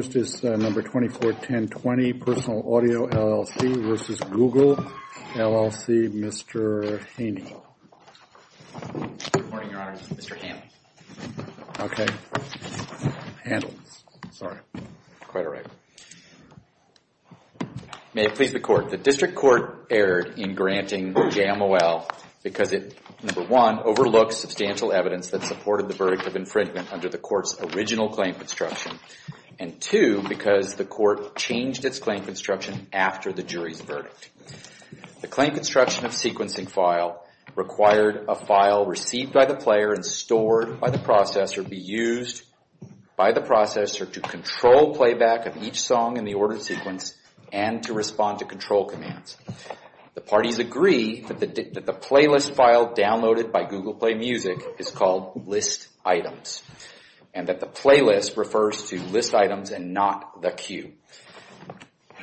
Number 241020, Personal Audio, LLC v. Google, LLC, Mr. Haney. Good morning, Your Honor. This is Mr. Haney. Okay. Handles. Sorry. Quite all right. May it please the Court, the District Court erred in granting JMOL because it, number one, overlooked substantial evidence that supported the verdict of infringement under the Court's original claim construction, and two, because the Court changed its claim construction after the jury's verdict. The claim construction of sequencing file required a file received by the player and stored by the processor be used by the processor to control playback of each song in the ordered sequence and to respond to control commands. The parties agree that the playlist file downloaded by Google Play Music is called List Items and that the playlist refers to List Items and not the cue.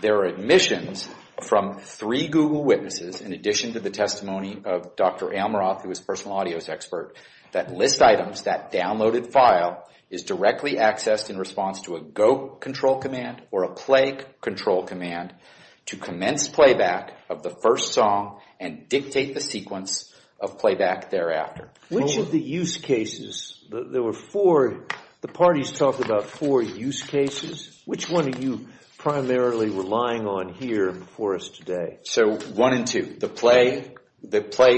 There are admissions from three Google witnesses, in addition to the testimony of Dr. Almaroth, who is a personal audios expert, that List Items, that downloaded file, is directly accessed in response to a go control command or a play control command to commence playback of the first song and dictate the sequence of playback thereafter. Which of the use cases, there were four, the parties talked about four use cases, which one are you primarily relying on here before us today? So one and two, the play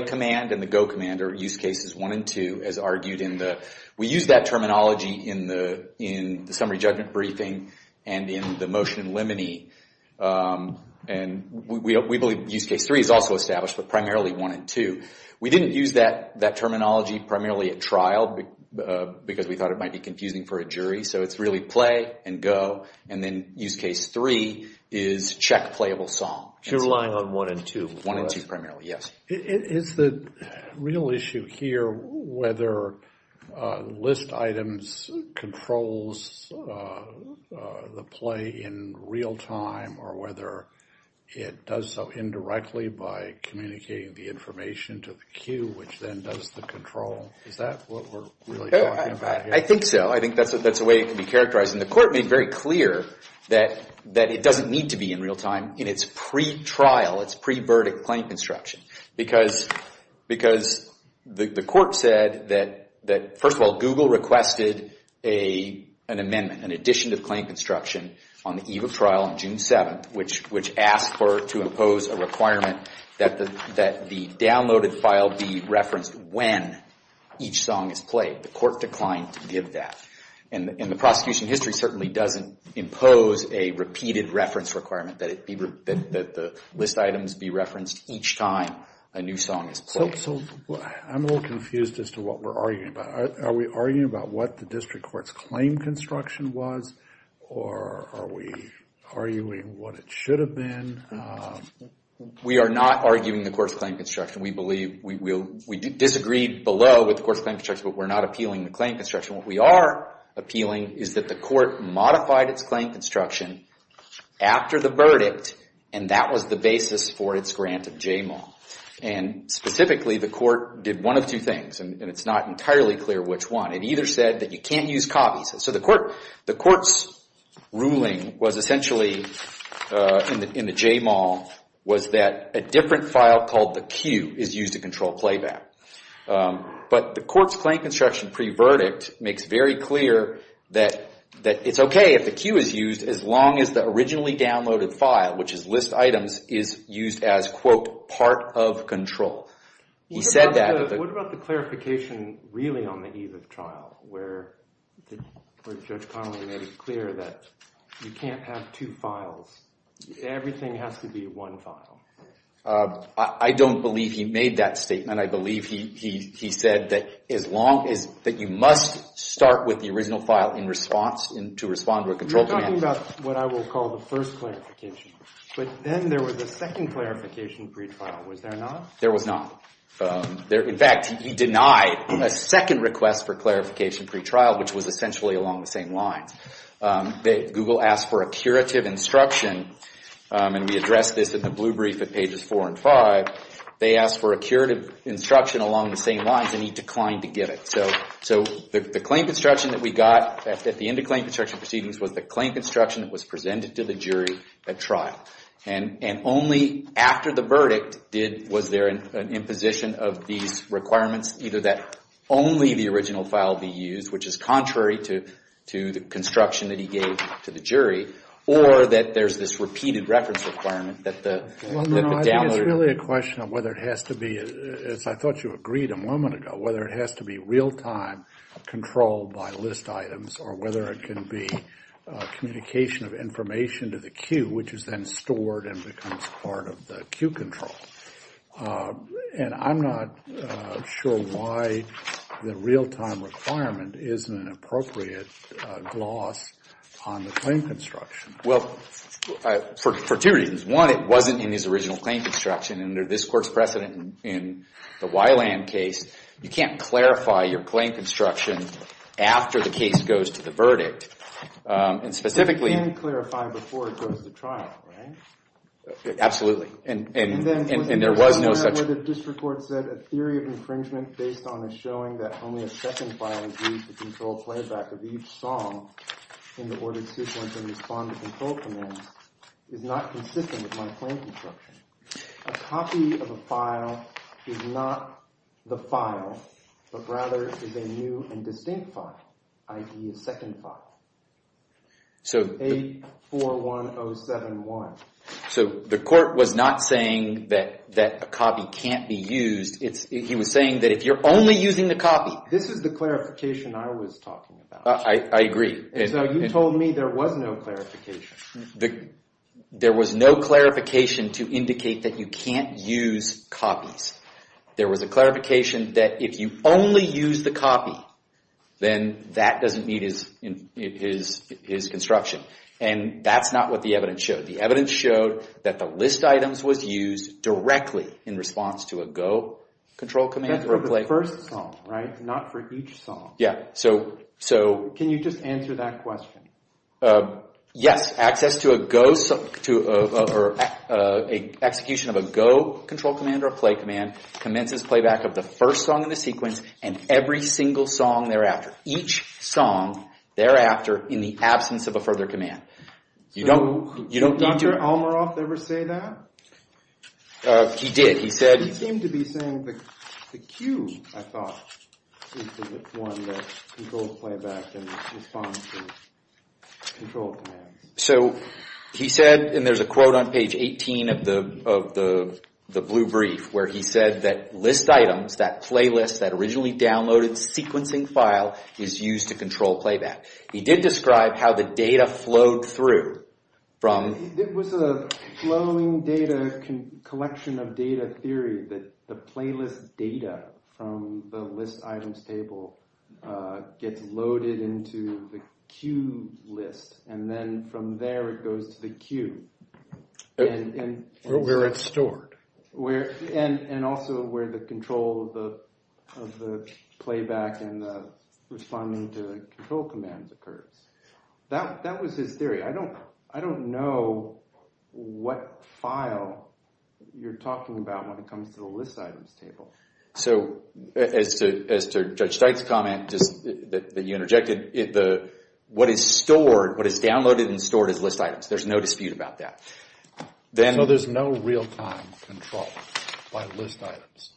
command and the go command are use cases one and two, as argued in the, we used that terminology in the summary judgment briefing and in the motion in Lemony, and we believe use case three is also established, but primarily one and two. We didn't use that terminology primarily at trial because we thought it might be confusing for a jury, so it's really play and go, and then use case three is check playable song. So you're relying on one and two before us? One and two primarily, yes. Is the real issue here whether List Items controls the play in real time or whether it does so indirectly by communicating the information to the cue, which then does the control? Is that what we're really talking about here? I think so. I think that's a way it can be characterized, and the court made very clear that it doesn't need to be in real time in its pre-trial, its pre-verdict claim construction because the court said that, first of all, Google requested an amendment, an addition to the claim construction on the eve of trial on June 7th, which asked for to impose a requirement that the downloaded file be referenced when each song is played. The court declined to give that, and the prosecution history certainly doesn't impose a repeated reference requirement that the List Items be referenced each time a new song is played. So I'm a little confused as to what we're arguing about. Are we arguing about what the district court's claim construction was, or are we arguing what it should have been? We are not arguing the court's claim construction. We disagreed below with the court's claim construction, but we're not appealing the claim construction. What we are appealing is that the court modified its claim construction after the verdict, and that was the basis for its grant of JML. Specifically, the court did one of two things, and it's not entirely clear which one. It either said that you can't use copies. So the court's ruling was essentially, in the JML, was that a different file called the cue is used to control playback. But the court's claim construction pre-verdict makes very clear that it's okay if the cue is used as long as the originally downloaded file, which is List Items, is used as, quote, part of control. He said that. What about the clarification really on the eve of trial, where Judge Connolly made it clear that you can't have two files? Everything has to be one file. I don't believe he made that statement. I believe he said that you must start with the original file in response, to respond to a control command. You're talking about what I will call the first clarification. But then there was a second clarification pre-trial. Was there not? There was not. In fact, he denied a second request for clarification pre-trial, which was essentially along the same lines. Google asked for a curative instruction, and we addressed this in the blue brief at pages 4 and 5. They asked for a curative instruction along the same lines, and he declined to give it. So the claim construction that we got at the end of claim construction proceedings was the claim construction that was presented to the jury at trial. And only after the verdict was there an imposition of these requirements, either that only the original file be used, which is contrary to the construction that he gave to the jury, or that there's this repeated reference requirement that the downloader— It's really a question of whether it has to be, as I thought you agreed a moment ago, whether it has to be real-time control by list items or whether it can be communication of information to the queue, which is then stored and becomes part of the queue control. And I'm not sure why the real-time requirement isn't an appropriate gloss on the claim construction. Well, for two reasons. One, it wasn't in his original claim construction. And under this court's precedent in the Weiland case, you can't clarify your claim construction after the case goes to the verdict. And specifically— You can clarify before it goes to trial, right? Absolutely. And there was no such— The district court said a theory of infringement based on a showing that only a second file is used to control playback of each song in the ordered sequence and respond to control commands is not consistent with my claim construction. A copy of a file is not the file, but rather is a new and distinct file, i.e. a second file. So— 841071. So the court was not saying that a copy can't be used. He was saying that if you're only using the copy— This is the clarification I was talking about. I agree. So you told me there was no clarification. There was no clarification to indicate that you can't use copies. There was a clarification that if you only use the copy, then that doesn't meet his construction. And that's not what the evidence showed. The evidence showed that the list items was used directly in response to a go control command. That's for the first song, right? Not for each song. Yeah, so— Can you just answer that question? Yes, access to a go— execution of a go control command or a play command commences playback of the first song in the sequence and every single song thereafter. Each song thereafter in the absence of a further command. You don't need to— Did Dr. Almaroff ever say that? He did. He said— He seemed to be saying the cue, I thought, is the one that controls playback in response to control commands. So he said—and there's a quote on page 18 of the blue brief where he said that list items, that playlist, that originally downloaded sequencing file is used to control playback. He did describe how the data flowed through from— It was a flowing data collection of data theory that the playlist data from the list items table gets loaded into the cue list and then from there it goes to the cue. Where it's stored. And also where the control of the playback and the responding to control commands occurs. That was his theory. I don't know what file you're talking about when it comes to the list items table. So as to Judge Steik's comment that you interjected, what is stored, what is downloaded and stored is list items. There's no dispute about that. So there's no real-time control by list items?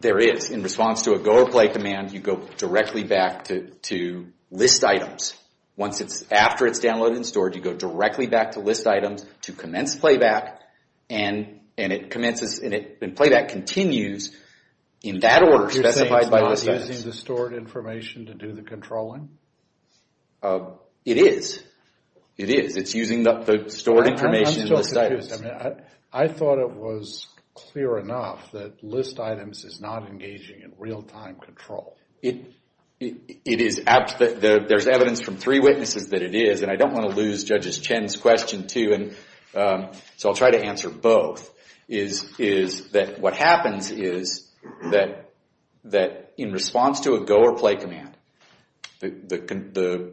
There is. In response to a go or play command, you go directly back to list items. Once it's—after it's downloaded and stored, you go directly back to list items to commence playback and it commences and playback continues in that order specified by list items. You're saying it's not using the stored information to do the controlling? It is. It is. It's using the stored information in the status. I'm still confused. I mean, I thought it was clear enough that list items is not engaging in real-time control. There's evidence from three witnesses that it is, and I don't want to lose Judge Chen's question too, so I'll try to answer both. What happens is that in response to a go or play command, the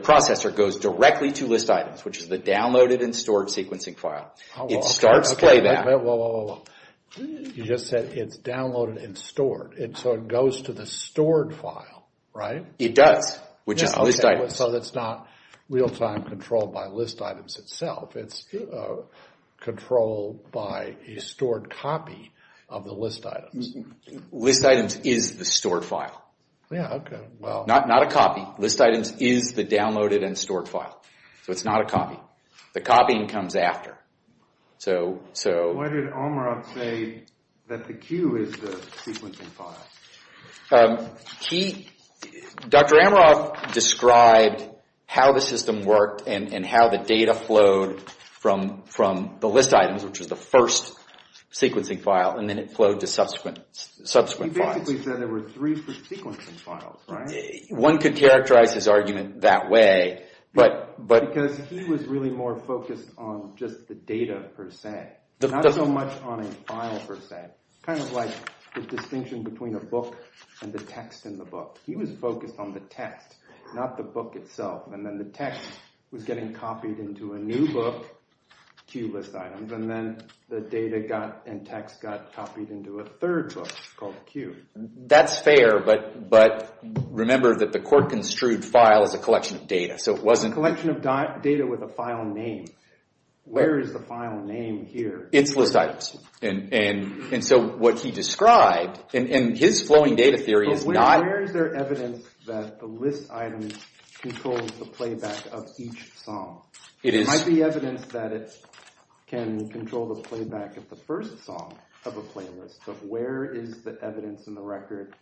processor goes directly to list items, which is the downloaded and stored sequencing file. It starts playback. You just said it's downloaded and stored. So it goes to the stored file, right? It does, which is list items. So it's not real-time controlled by list items itself. It's controlled by a stored copy of the list items. List items is the stored file. Not a copy. List items is the downloaded and stored file, so it's not a copy. The copying comes after. Why did Amaroff say that the queue is the sequencing file? Dr. Amaroff described how the system worked and how the data flowed from the list items, which was the first sequencing file, and then it flowed to subsequent files. He basically said there were three sequencing files, right? One could characterize his argument that way. Because he was really more focused on just the data per se, not so much on a file per se, kind of like the distinction between a book and the text in the book. He was focused on the text, not the book itself. And then the text was getting copied into a new book, queue list items, and then the data and text got copied into a third book called queue. That's fair, but remember that the court construed file as a collection of data, so it wasn't... A collection of data with a file name. Where is the file name here? It's list items. And so what he described, and his flowing data theory is not... But where is there evidence that the list item controls the playback of each song? It might be evidence that it can control the playback of the first song of a playlist, but where is the evidence in the record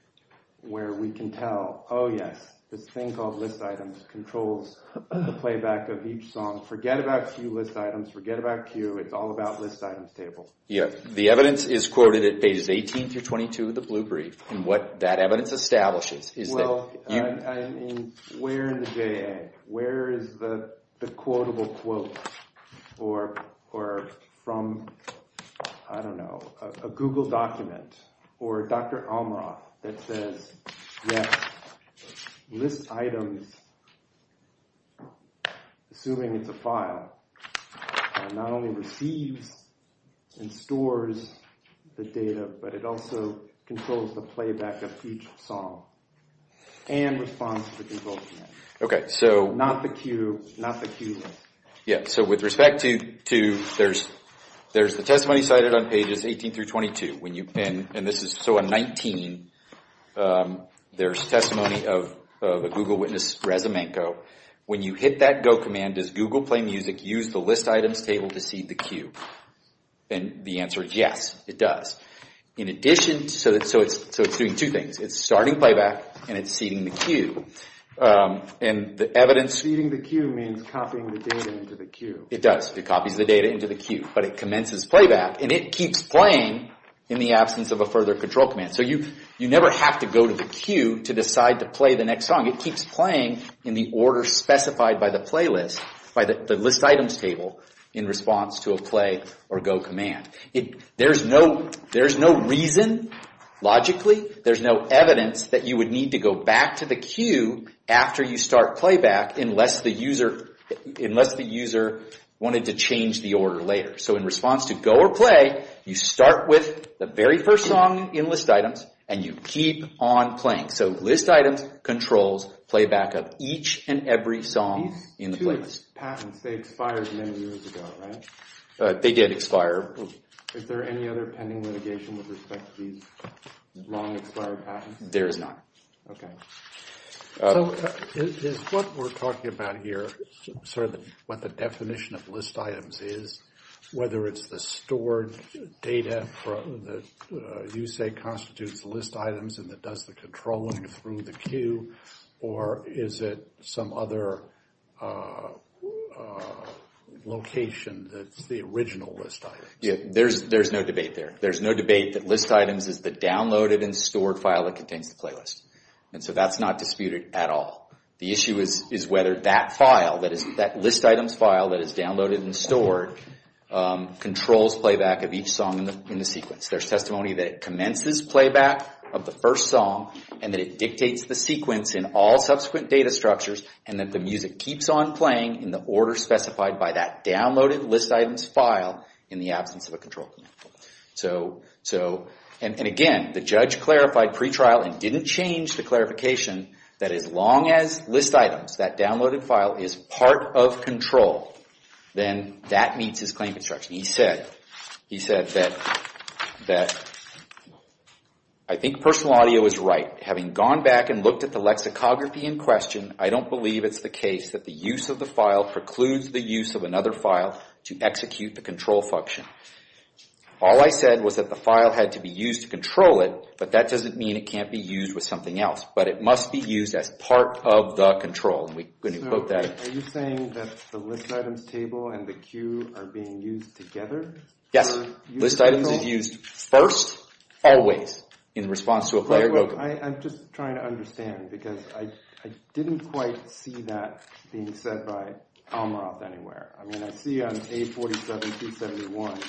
where we can tell, oh yes, this thing called list items controls the playback of each song. Forget about queue list items. Forget about queue. It's all about list items tables. Yeah, the evidence is quoted at pages 18 through 22 of the blue brief, and what that evidence establishes is that... Well, I mean, where in the J.A.? Where is the quotable quote? Or from, I don't know, a Google document or Dr. Almoroff that says, yes, list items, assuming it's a file, not only receives and stores the data, but it also controls the playback of each song and responds to the results. Okay, so... Not the queue, not the queue list. Yeah, so with respect to... There's the testimony cited on pages 18 through 22 when you... And this is, so on 19, there's testimony of a Google witness, Reza Menko. When you hit that go command, does Google Play Music use the list items table to seed the queue? And the answer is yes, it does. In addition... So it's doing two things. It's starting playback, and it's seeding the queue. And the evidence... Seeding the queue means copying the data into the queue. It does. It copies the data into the queue, but it commences playback, and it keeps playing in the absence of a further control command. So you never have to go to the queue to decide to play the next song. It keeps playing in the order specified by the playlist, by the list items table, in response to a play or go command. There's no reason, logically. There's no evidence that you would need to go back to the queue after you start playback unless the user wanted to change the order later. So in response to go or play, you start with the very first song in list items, and you keep on playing. So list items, controls, playback of each and every song in the playlist. These two patents, they expired many years ago, right? They did expire. Is there any other pending litigation with respect to these long-expired patents? There is not. Okay. So is what we're talking about here, sort of what the definition of list items is, whether it's the stored data that you say constitutes list items and that does the controlling through the queue, or is it some other location that's the original list items? Yeah, there's no debate there. There's no debate that list items is the downloaded and stored file that contains the playlist. And so that's not disputed at all. The issue is whether that file, that list items file that is downloaded and stored, controls playback of each song in the sequence. There's testimony that it commences playback of the first song, and that it dictates the sequence in all subsequent data structures, and that the music keeps on playing in the order specified by that downloaded list items file in the absence of a control command. So, and again, the judge clarified pretrial and didn't change the clarification that as long as list items, that downloaded file, is part of control, then that meets his claim construction. He said that, I think personal audio is right. Having gone back and looked at the lexicography in question, I don't believe it's the case that the use of the file precludes the use of another file to execute the control function. All I said was that the file had to be used to control it, but that doesn't mean it can't be used with something else. But it must be used as part of the control. And we're going to quote that. Are you saying that the list items table and the cue are being used together? Yes. List items is used first, always, in response to a player vocal. I'm just trying to understand, because I didn't quite see that being said by Almoth anywhere. I mean, I see on A47271,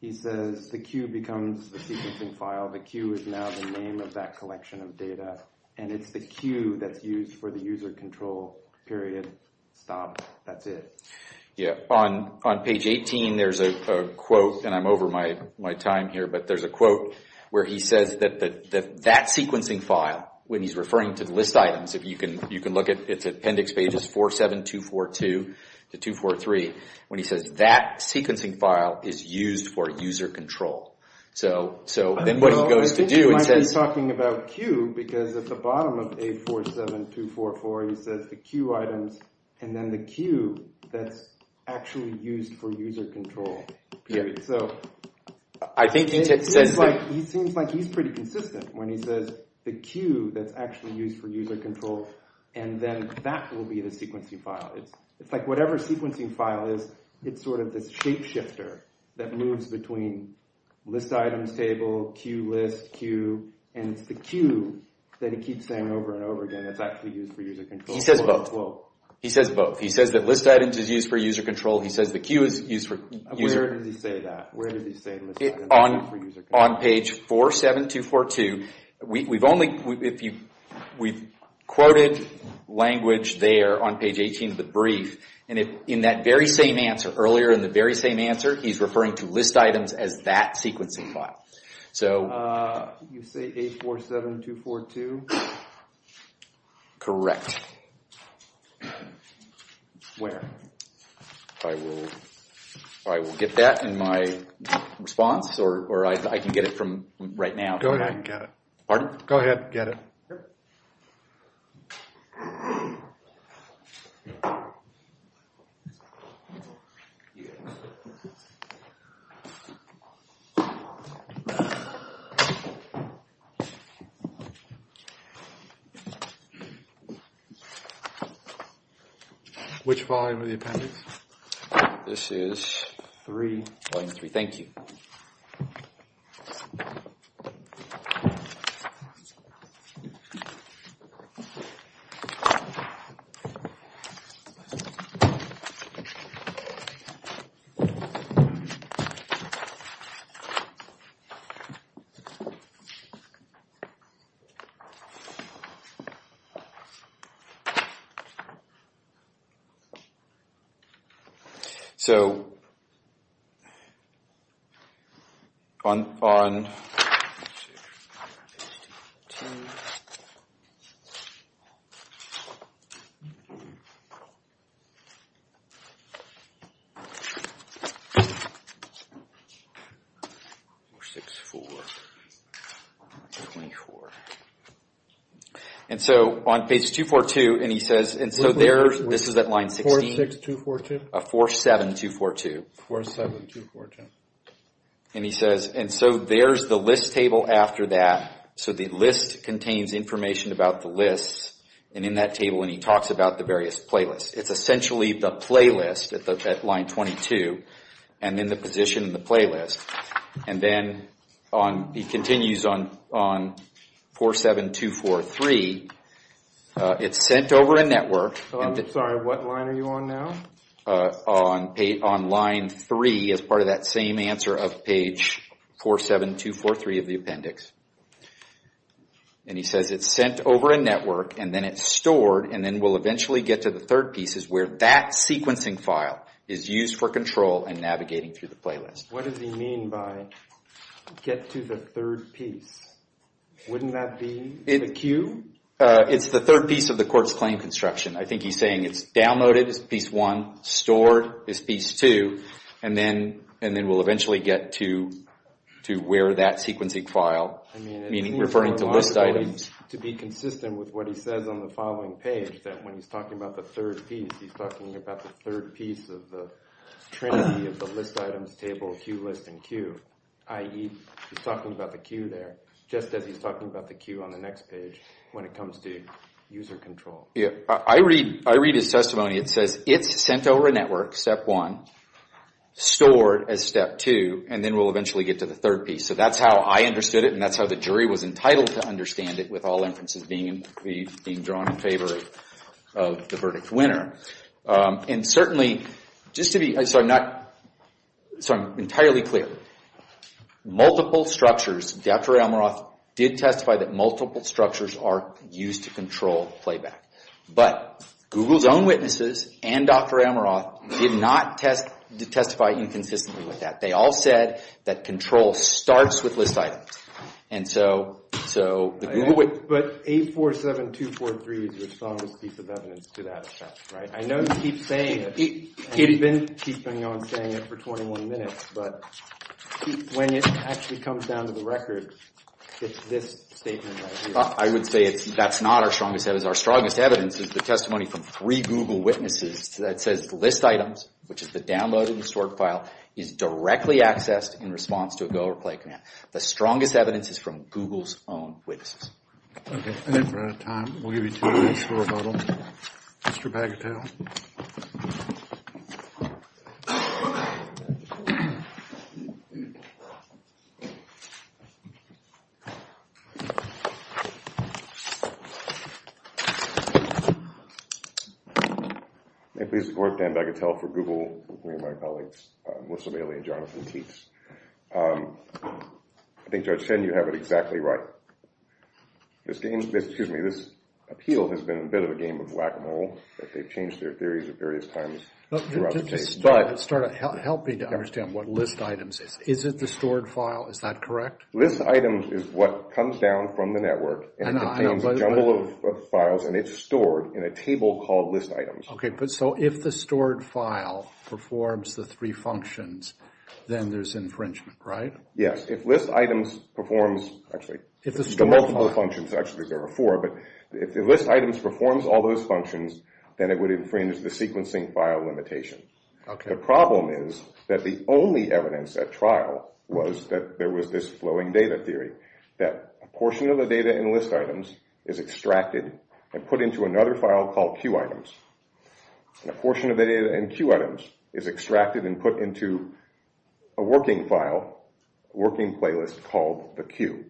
he says the cue becomes the sequencing file. The cue is now the name of that collection of data. And it's the cue that's used for the user control, period. Stop. That's it. Yeah. On page 18, there's a quote, and I'm over my time here, but there's a quote where he says that that sequencing file, when he's referring to the list items, you can look at its appendix pages, 47242 to 243, when he says that sequencing file is used for user control. So then what he goes to do is says... I think he might be talking about cue, because at the bottom of A47244, he says the cue items, and then the cue that's actually used for user control, period. So... I think he said... He seems like he's pretty consistent when he says the cue that's actually used for user control, and then that will be the sequencing file. It's like whatever sequencing file is, it's sort of this shape shifter that moves between list items table, cue list, cue, and it's the cue that he keeps saying over and over again that's actually used for user control. He says both. He says both. He says that list items is used for user control. He says the cue is used for user... Where does he say that? Where does he say list items is used for user control? On page 47242, we've quoted language there on page 18 of the brief, and in that very same answer, earlier in the very same answer, he's referring to list items as that sequencing file. So... You say 847242? Correct. Where? I will get that in my response, or I can get it from right now. Go ahead and get it. Pardon? Go ahead and get it. Perfect. Which volume are the appendix? This is volume 3. Thank you. So... On... And so on page 242, and he says... This is at line 16. 46242? 47242. 47242. And he says... And so there's the list table after that. So the list contains information about the lists, and in that table, and he talks about the various playlists. It's essentially the playlist at line 22, and then the position in the playlist. And then he continues on 47243. It's sent over a network... I'm sorry. What line are you on now? On line 3, as part of that same answer of page 47243 of the appendix. And he says it's sent over a network, and then it's stored, and then we'll eventually get to the third piece is where that sequencing file is used for control and navigating through the playlist. What does he mean by get to the third piece? Wouldn't that be the queue? It's the third piece of the court's claim construction. I think he's saying it's downloaded as piece 1, stored as piece 2, and then we'll eventually get to where that sequencing file, meaning referring to list items. To be consistent with what he says on the following page that when he's talking about the third piece, he's talking about the third piece of the trinity of the list items table, queue list and queue, i.e. he's talking about the queue there, just as he's talking about the queue on the next page when it comes to user control. I read his testimony. It says it's sent over a network, step 1, stored as step 2, and then we'll eventually get to the third piece. So that's how I understood it, and that's how the jury was entitled to understand it with all inferences being drawn in favor of the verdict winner. And certainly, just to be, so I'm not, so I'm entirely clear. Multiple structures, Dr. Elmoroth did testify that multiple structures are used to control playback, but Google's own witnesses and Dr. Elmoroth did not testify inconsistently with that. They all said that control starts with list items, and so the Google witness... But 847243 is your strongest piece of evidence to that effect, right? I know you keep saying it, and you've been keeping on saying it for 21 minutes, but when it actually comes down to the record, it's this statement right here. I would say that's not our strongest evidence. Our strongest evidence is the testimony from three Google witnesses that says list items, which is the downloaded and stored file, is directly accessed in response to a go or play command. The strongest evidence is from Google's own witnesses. Okay, I think we're out of time. We'll give you two minutes for rebuttal. Mr. Bagatelle. May it please the court, Dan Bagatelle for Google, and my colleagues Melissa Bailey and Jonathan Keats. I think, Judge Chen, you have it exactly right. This game's been... Excuse me, this appeal has been a bit of a game of whack-a-mole, that they've changed their theories at various times throughout the case, but... Help me to understand what list items is. Is it the stored file? Is that correct? List items are stored files. List items is what comes down from the network and contains a jumble of files, and it's stored in a table called list items. Okay, but so if the stored file performs the three functions, then there's infringement, right? Yes, if list items performs... Actually, there's multiple functions. Actually, there are four, but if list items performs all those functions, then it would infringe the sequencing file limitation. The problem is that the only evidence at trial was that there was this flowing data theory, that a portion of the data in list items is extracted and put into another file called queue items, and a portion of the data in queue items is extracted and put into a working file, a working playlist called the queue,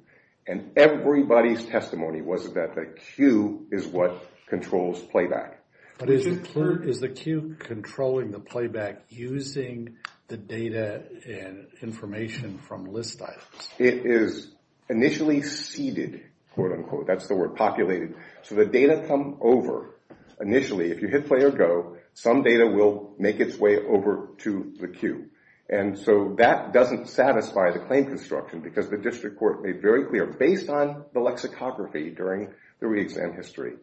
and everybody's testimony was that the queue is what controls playback. But is the queue controlling the playback using the data and information from list items? It is initially seeded, quote-unquote. That's the word, populated. So the data come over initially. If you hit play or go, some data will make its way over to the queue, and so that doesn't satisfy the claim construction because the district court made very clear, based on the lexicography during the re-exam history,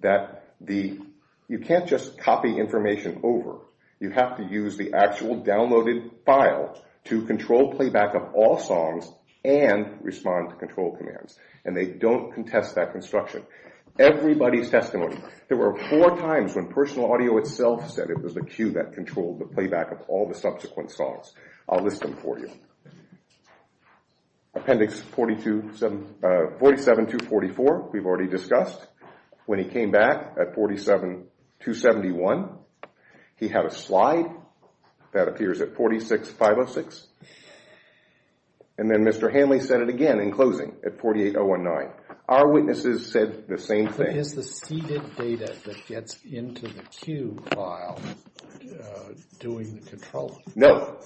that you can't just copy information over. You have to use the actual downloaded file to control playback of all songs and respond to control commands, and they don't contest that construction. Everybody's testimony. There were four times when personal audio itself said it was the queue that controlled the playback of all the subsequent songs. I'll list them for you. Appendix 47-244, we've already discussed. When he came back at 47-271, he had a slide that appears at 46-506, and then Mr. Hanley said it again in closing at 48-019. Our witnesses said the same thing. But is the seeded data that gets into the queue file doing the control? No.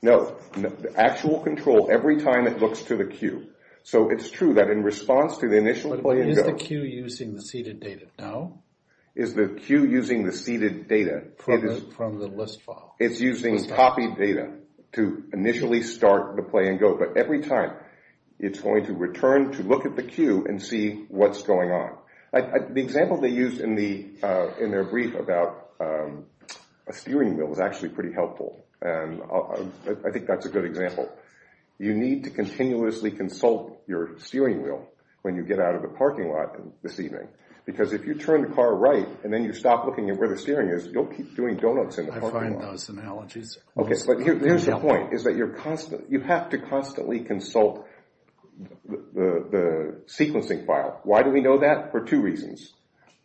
No. The actual control every time it looks to the queue. So it's true that in response to the initial play and go... But is the queue using the seeded data? No. Is the queue using the seeded data? From the list file. It's using copied data to initially start the play and go, but every time it's going to return to look at the queue and see what's going on. The example they used in their brief about a steering wheel is actually pretty helpful, and I think that's a good example. You need to continuously consult your steering wheel when you get out of the parking lot this evening, because if you turn the car right and then you stop looking at where the steering is, you'll keep doing donuts in the parking lot. I find those analogies... But here's the point. You have to constantly consult the sequencing file. Why do we know that? For two reasons.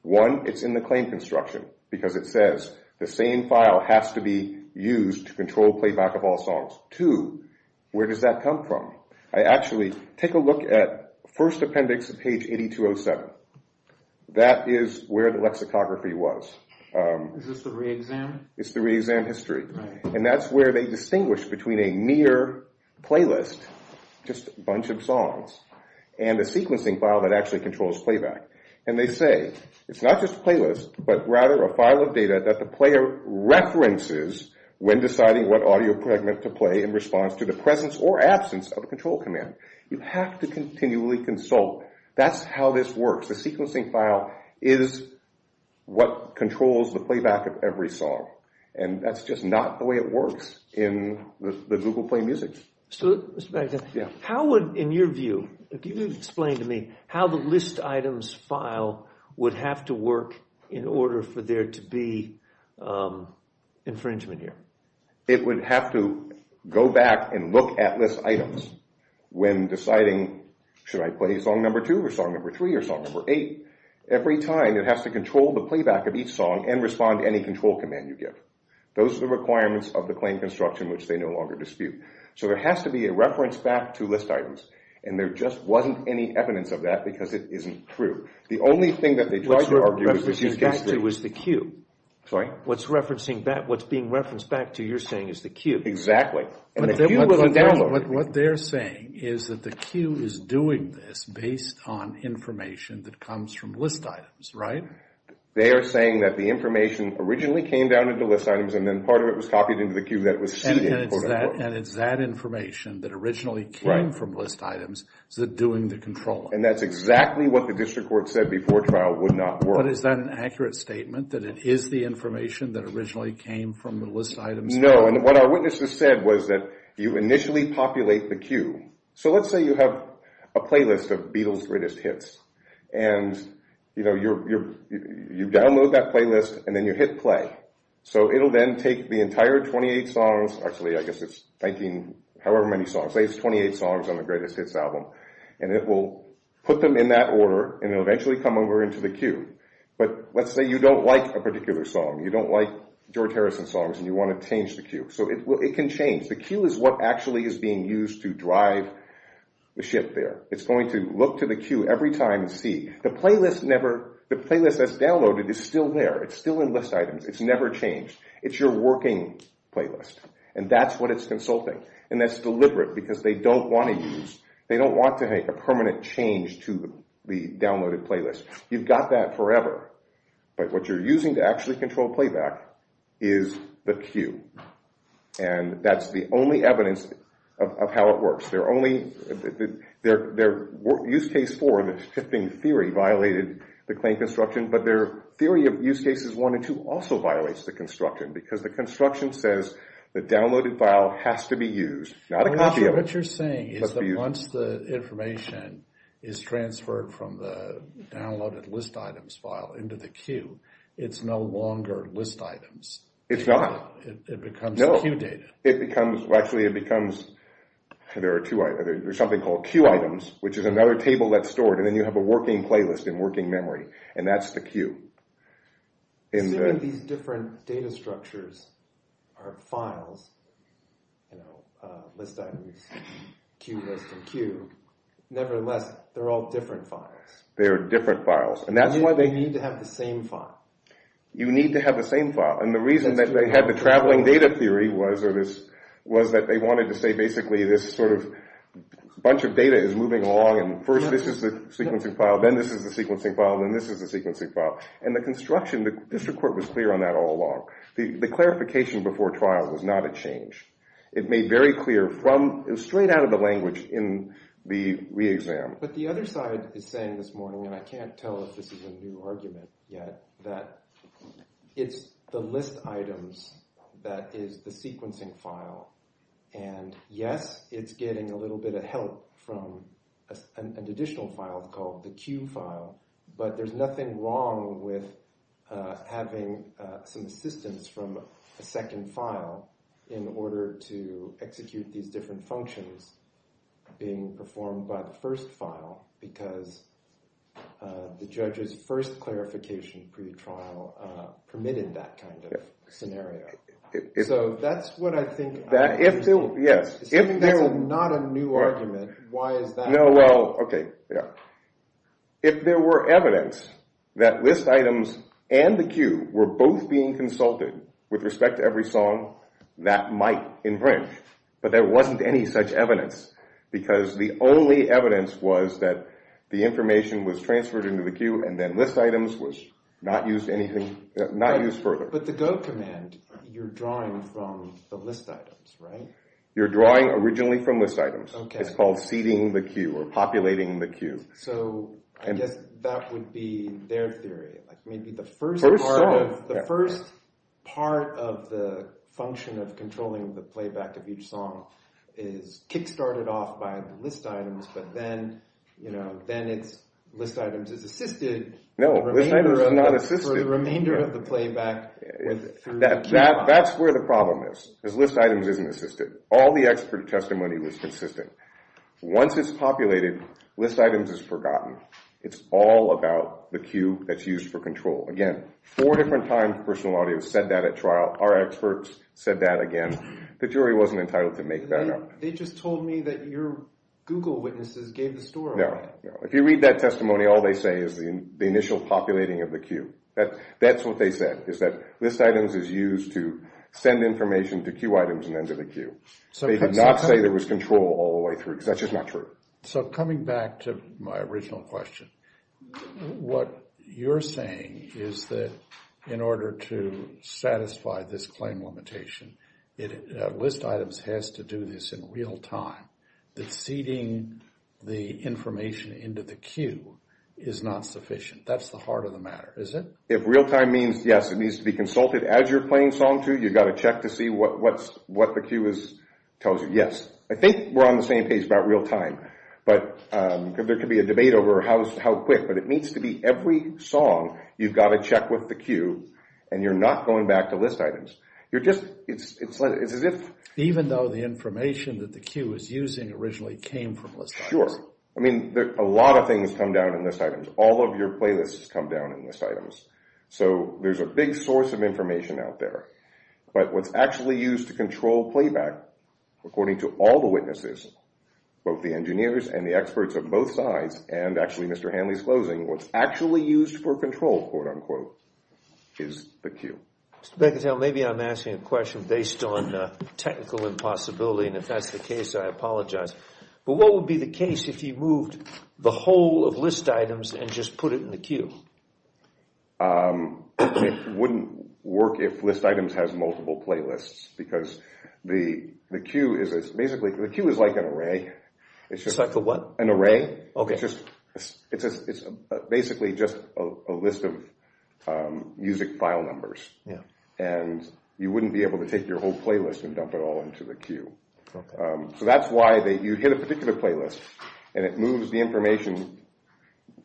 One, it's in the claim construction, because it says the same file has to be used to control playback of all songs. Two, where does that come from? I actually take a look at first appendix, page 8207. That is where the lexicography was. Is this the re-exam? It's the re-exam history. And that's where they distinguish between a mere playlist, just a bunch of songs, and a sequencing file that actually controls playback. And they say it's not just a playlist, but rather a file of data that the player references when deciding what audio fragment to play in response to the presence or absence of a control command. You have to continually consult. That's how this works. The sequencing file is what controls the playback of every song. And that's just not the way it works in the Google Play Music. So, Mr. Baggett, how would, in your view, can you explain to me how the list items file would have to work in order for there to be infringement here? It would have to go back and look at list items when deciding should I play song number two or song number three or song number eight. Every time it has to control the playback of each song and respond to any control command you give. Those are the requirements of the claim construction which they no longer dispute. So there has to be a reference back to list items. And there just wasn't any evidence of that because it isn't true. The only thing that they tried to argue was the Q. What's being referenced back to, you're saying, is the Q. Exactly. What they're saying is that the Q is doing this based on information that comes from list items, right? They are saying that the information originally came down into list items and then part of it was copied into the Q. And it's that information that originally came from list items that's doing the controlling. And that's exactly what the district court said before trial would not work. But is that an accurate statement, that it is the information that originally came from the list items? No, and what our witnesses said was that you initially populate the Q. So let's say you have a playlist of Beatles' greatest hits. And you download that playlist and then you hit play. So it'll then take the entire 28 songs, actually I guess it's 19, however many songs, say it's 28 songs on the Greatest Hits album, and it will put them in that order and it will eventually come over into the Q. But let's say you don't like a particular song. You don't like George Harrison's songs and you want to change the Q. So it can change. The Q is what actually is being used to drive the ship there. It's going to look to the Q every time and see. The playlist that's downloaded is still there. It's still in list items. It's never changed. It's your working playlist. And that's what it's consulting. And that's deliberate because they don't want to use, they don't want to make a permanent change to the downloaded playlist. You've got that forever. But what you're using to actually control playback is the Q. And that's the only evidence of how it works. Their use case 4, the shifting theory, violated the claim construction, but their theory of use cases 1 and 2 also violates the construction because the construction says the downloaded file has to be used. What you're saying is that once the information is transferred from the downloaded list items file into the Q, it's no longer list items. It's not. It becomes Q data. Actually, it becomes, there's something called Q items, which is another table that's stored. And then you have a working playlist and working memory. And that's the Q. Assuming these different data structures are files, you know, list items, Q, list, and Q, nevertheless, they're all different files. They're different files. They need to have the same file. You need to have the same file. And the reason that they had the traveling data theory was that they wanted to say basically this sort of bunch of data is moving along, and first this is the sequencing file, then this is the sequencing file, then this is the sequencing file. And the construction, the district court was clear on that all along. The clarification before trial was not a change. It made very clear from, straight out of the language in the re-exam. But the other side is saying this morning, and I can't tell if this is a new argument yet, that it's the list items that is the sequencing file. And yes, it's getting a little bit of help from an additional file called the Q file, but there's nothing wrong with having some assistance from a second file in order to execute these different functions being performed by the first file because the judge's first clarification pre-trial permitted that kind of scenario. So that's what I think. If there's not a new argument, why is that? No, well, okay, yeah. If there were evidence that list items and the Q were both being consulted with respect to every song, that might infringe. But there wasn't any such evidence because the only evidence was that the information was transferred into the Q and then list items was not used further. But the Go command, you're drawing from the list items, right? You're drawing originally from list items. It's called seeding the Q or populating the Q. So I guess that would be their theory, like maybe the first part of the function of controlling the playback of each song is kick-started off by the list items, but then list items is assisted. No, list items is not assisted. That's where the problem is, because list items isn't assisted. All the expert testimony was consistent. Once it's populated, list items is forgotten. It's all about the Q that's used for control. Again, four different times personal audience said that at trial. Our experts said that again. The jury wasn't entitled to make that up. They just told me that your Google witnesses gave the story. No, if you read that testimony, all they say is the initial populating of the Q. That's what they said, is that list items is used to send information to Q items and then to the Q. They did not say there was control all the way through, because that's just not true. So coming back to my original question, what you're saying is that in order to satisfy this claim limitation, list items has to do this in real time, that seeding the information into the Q is not sufficient. That's the heart of the matter, is it? If real time means, yes, it needs to be consulted as you're playing Song 2, you've got to check to see what the Q tells you. Yes, I think we're on the same page about real time, but there could be a debate over how quick, but it needs to be every song you've got to check with the Q, and you're not going back to list items. You're just, it's as if… Even though the information that the Q is using originally came from list items. Sure. I mean, a lot of things come down in list items. All of your playlists come down in list items. So there's a big source of information out there. But what's actually used to control playback, according to all the witnesses, both the engineers and the experts of both sides, and actually Mr. Hanley's closing, what's actually used for control, quote, unquote, is the Q. Mr. Becotel, maybe I'm asking a question based on technical impossibility, and if that's the case, I apologize. But what would be the case if you moved the whole of list items and just put it in the Q? It wouldn't work if list items has multiple playlists, because the Q is basically, the Q is like an array. It's like a what? An array. Okay. It's basically just a list of music file numbers. Yeah. And you wouldn't be able to take your whole playlist and dump it all into the Q. Okay. So that's why you hit a particular playlist, and it moves the information,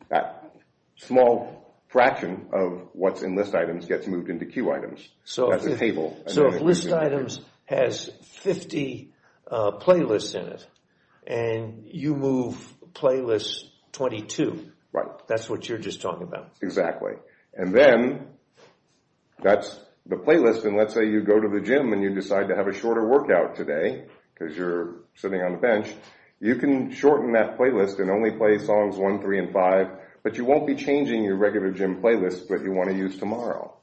that small fraction of what's in list items gets moved into Q items. So if list items has 50 playlists in it, and you move playlist 22, that's what you're just talking about. Exactly. And then that's the playlist, and let's say you go to the gym and you decide to have a shorter workout today, because you're sitting on the bench, you can shorten that playlist and only play songs 1, 3, and 5, but you won't be changing your regular gym playlist that you want to use tomorrow.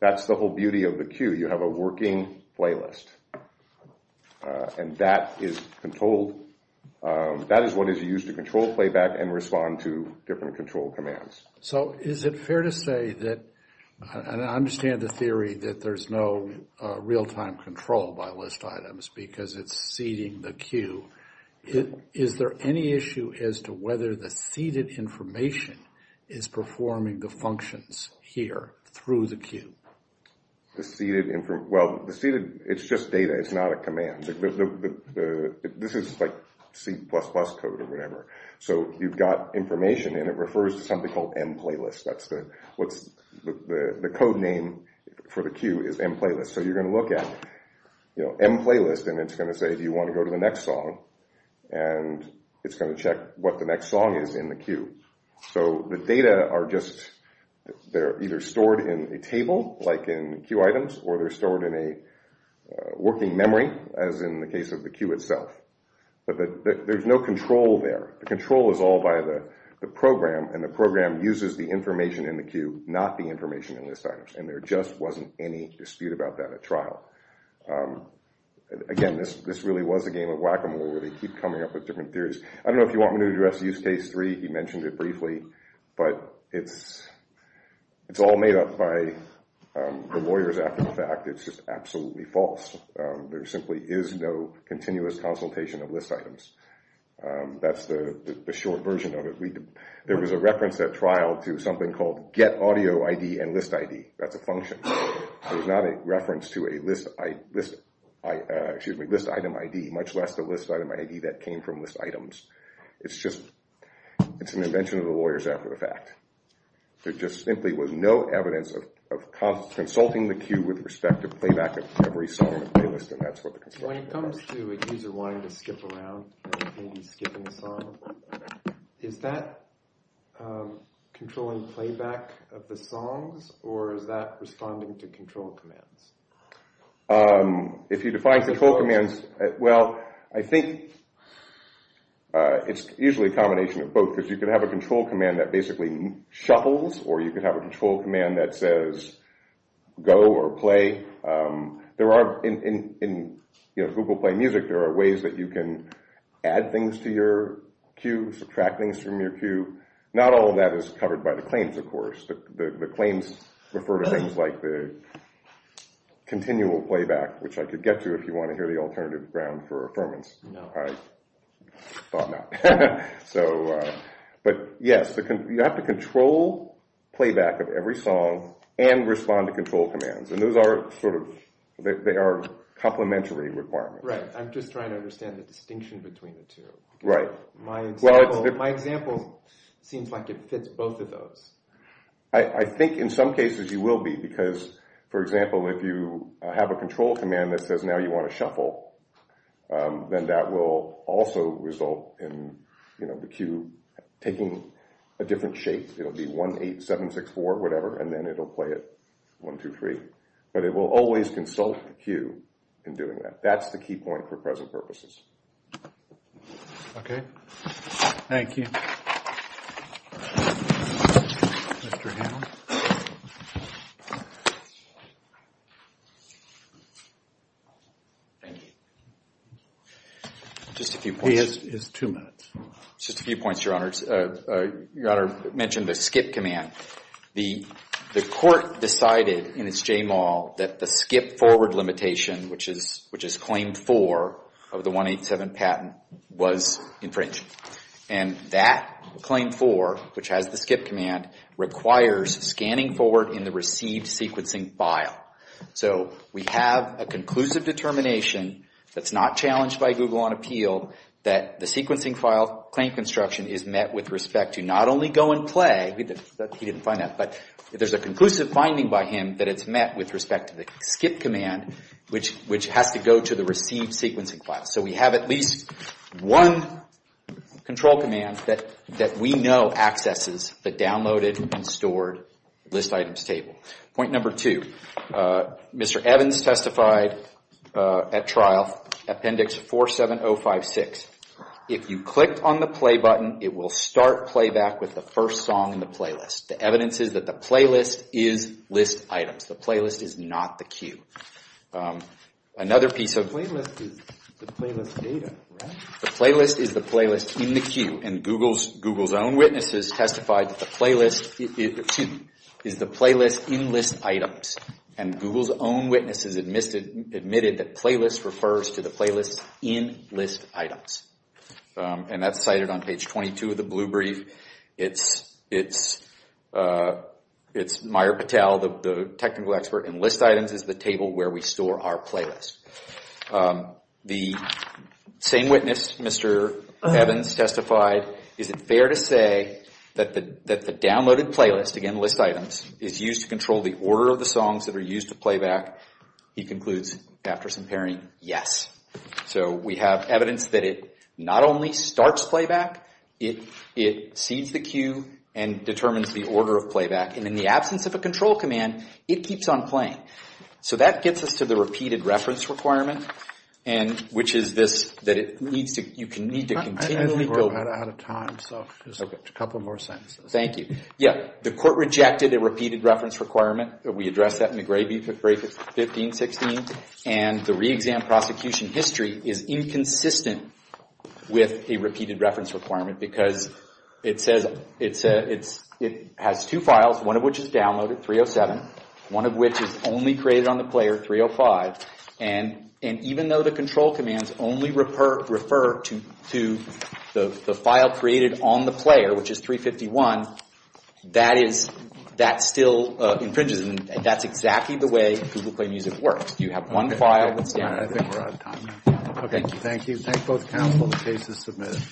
That's the whole beauty of the Q. You have a working playlist. And that is what is used to control playback and respond to different control commands. So is it fair to say that, and I understand the theory that there's no real-time control by list items because it's seeding the Q. Is there any issue as to whether the seeded information is performing the functions here through the Q? The seeded information? Well, the seeded, it's just data. It's not a command. This is like C++ code or whatever. So you've got information, and it refers to something called mplaylist. The code name for the Q is mplaylist. So you're going to look at mplaylist, and it's going to say, do you want to go to the next song? And it's going to check what the next song is in the Q. So the data are just either stored in a table, like in Q items, or they're stored in a working memory, as in the case of the Q itself. But there's no control there. The control is all by the program, and the program uses the information in the Q, not the information in list items. And there just wasn't any dispute about that at trial. Again, this really was a game of whack-a-mole, where they keep coming up with different theories. I don't know if you want me to address use case three. He mentioned it briefly. But it's all made up by the lawyers after the fact. It's just absolutely false. There simply is no continuous consultation of list items. That's the short version of it. There was a reference at trial to something called get audio ID and list ID. That's a function. It was not a reference to a list item ID, much less the list item ID that came from list items. It's an invention of the lawyers after the fact. There just simply was no evidence of consulting the Q with respect to playback of every song in the playlist, and that's what the control is. When it comes to a user wanting to skip around, maybe skipping a song, is that controlling playback of the songs, or is that responding to control commands? If you define control commands, well, I think it's usually a combination of both, because you can have a control command that basically shuffles, or you can have a control command that says go or play. In Google Play Music, there are ways that you can add things to your Q, subtract things from your Q. Not all of that is covered by the claims, of course. The claims refer to things like the continual playback, which I could get to if you want to hear the alternative ground for affirmance. I thought not. But yes, you have to control playback of every song and respond to control commands. They are complementary requirements. Right. I'm just trying to understand the distinction between the two. Right. My example seems like it fits both of those. I think in some cases you will be, because, for example, if you have a control command that says now you want to shuffle, then that will also result in the Q taking a different shape. It'll be 1, 8, 7, 6, 4, whatever, and then it'll play it 1, 2, 3. But it will always consult the Q in doing that. That's the key point for present purposes. Okay. Thank you. Mr. Hanlon. Thank you. Just a few points. He has two minutes. Just a few points, Your Honors. Your Honor mentioned the skip command. The court decided in its J-mall that the skip forward limitation, which is claim 4 of the 187 patent, was infringed. And that claim 4, which has the skip command, requires scanning forward in the received sequencing file. So we have a conclusive determination that's not challenged by Google on Appeal that the sequencing file claim construction is met with respect to not only go and play, he didn't find that, but there's a conclusive finding by him that it's met with respect to the skip command, which has to go to the received sequencing file. So we have at least one control command that we know accesses the downloaded and stored list items table. Point number two. Mr. Evans testified at trial, Appendix 47056. If you click on the play button, it will start playback with the first song in the playlist. The evidence is that the playlist is list items. The playlist is not the cue. Another piece of the playlist is the playlist data, right? The playlist is the playlist in the cue. And Google's own witnesses testified that the playlist is the playlist in list items. And Google's own witnesses admitted that playlist refers to the playlist in list items. And that's cited on page 22 of the blue brief. It's Myer Patel, the technical expert, and list items is the table where we store our playlist. The same witness, Mr. Evans, testified, is it fair to say that the downloaded playlist, again list items, is used to control the order of the songs that are used to playback? He concludes, after some pairing, yes. So we have evidence that it not only starts playback, it sees the cue and determines the order of playback. And in the absence of a control command, it keeps on playing. So that gets us to the repeated reference requirement, which is this, that you need to continually go. I think we're about out of time, so just a couple more sentences. Thank you. Yeah, the court rejected a repeated reference requirement. We addressed that in the grade 15-16. And the re-exam prosecution history is inconsistent with a repeated reference requirement because it has two files, one of which is downloaded, 307, one of which is only created on the player, 305. And even though the control commands only refer to the file created on the player, which is 351, that still infringes. And that's exactly the way Google Play Music works. You have one file that's downloaded. I think we're out of time. Thank you. Thank you. Thank both counsel. The case is submitted.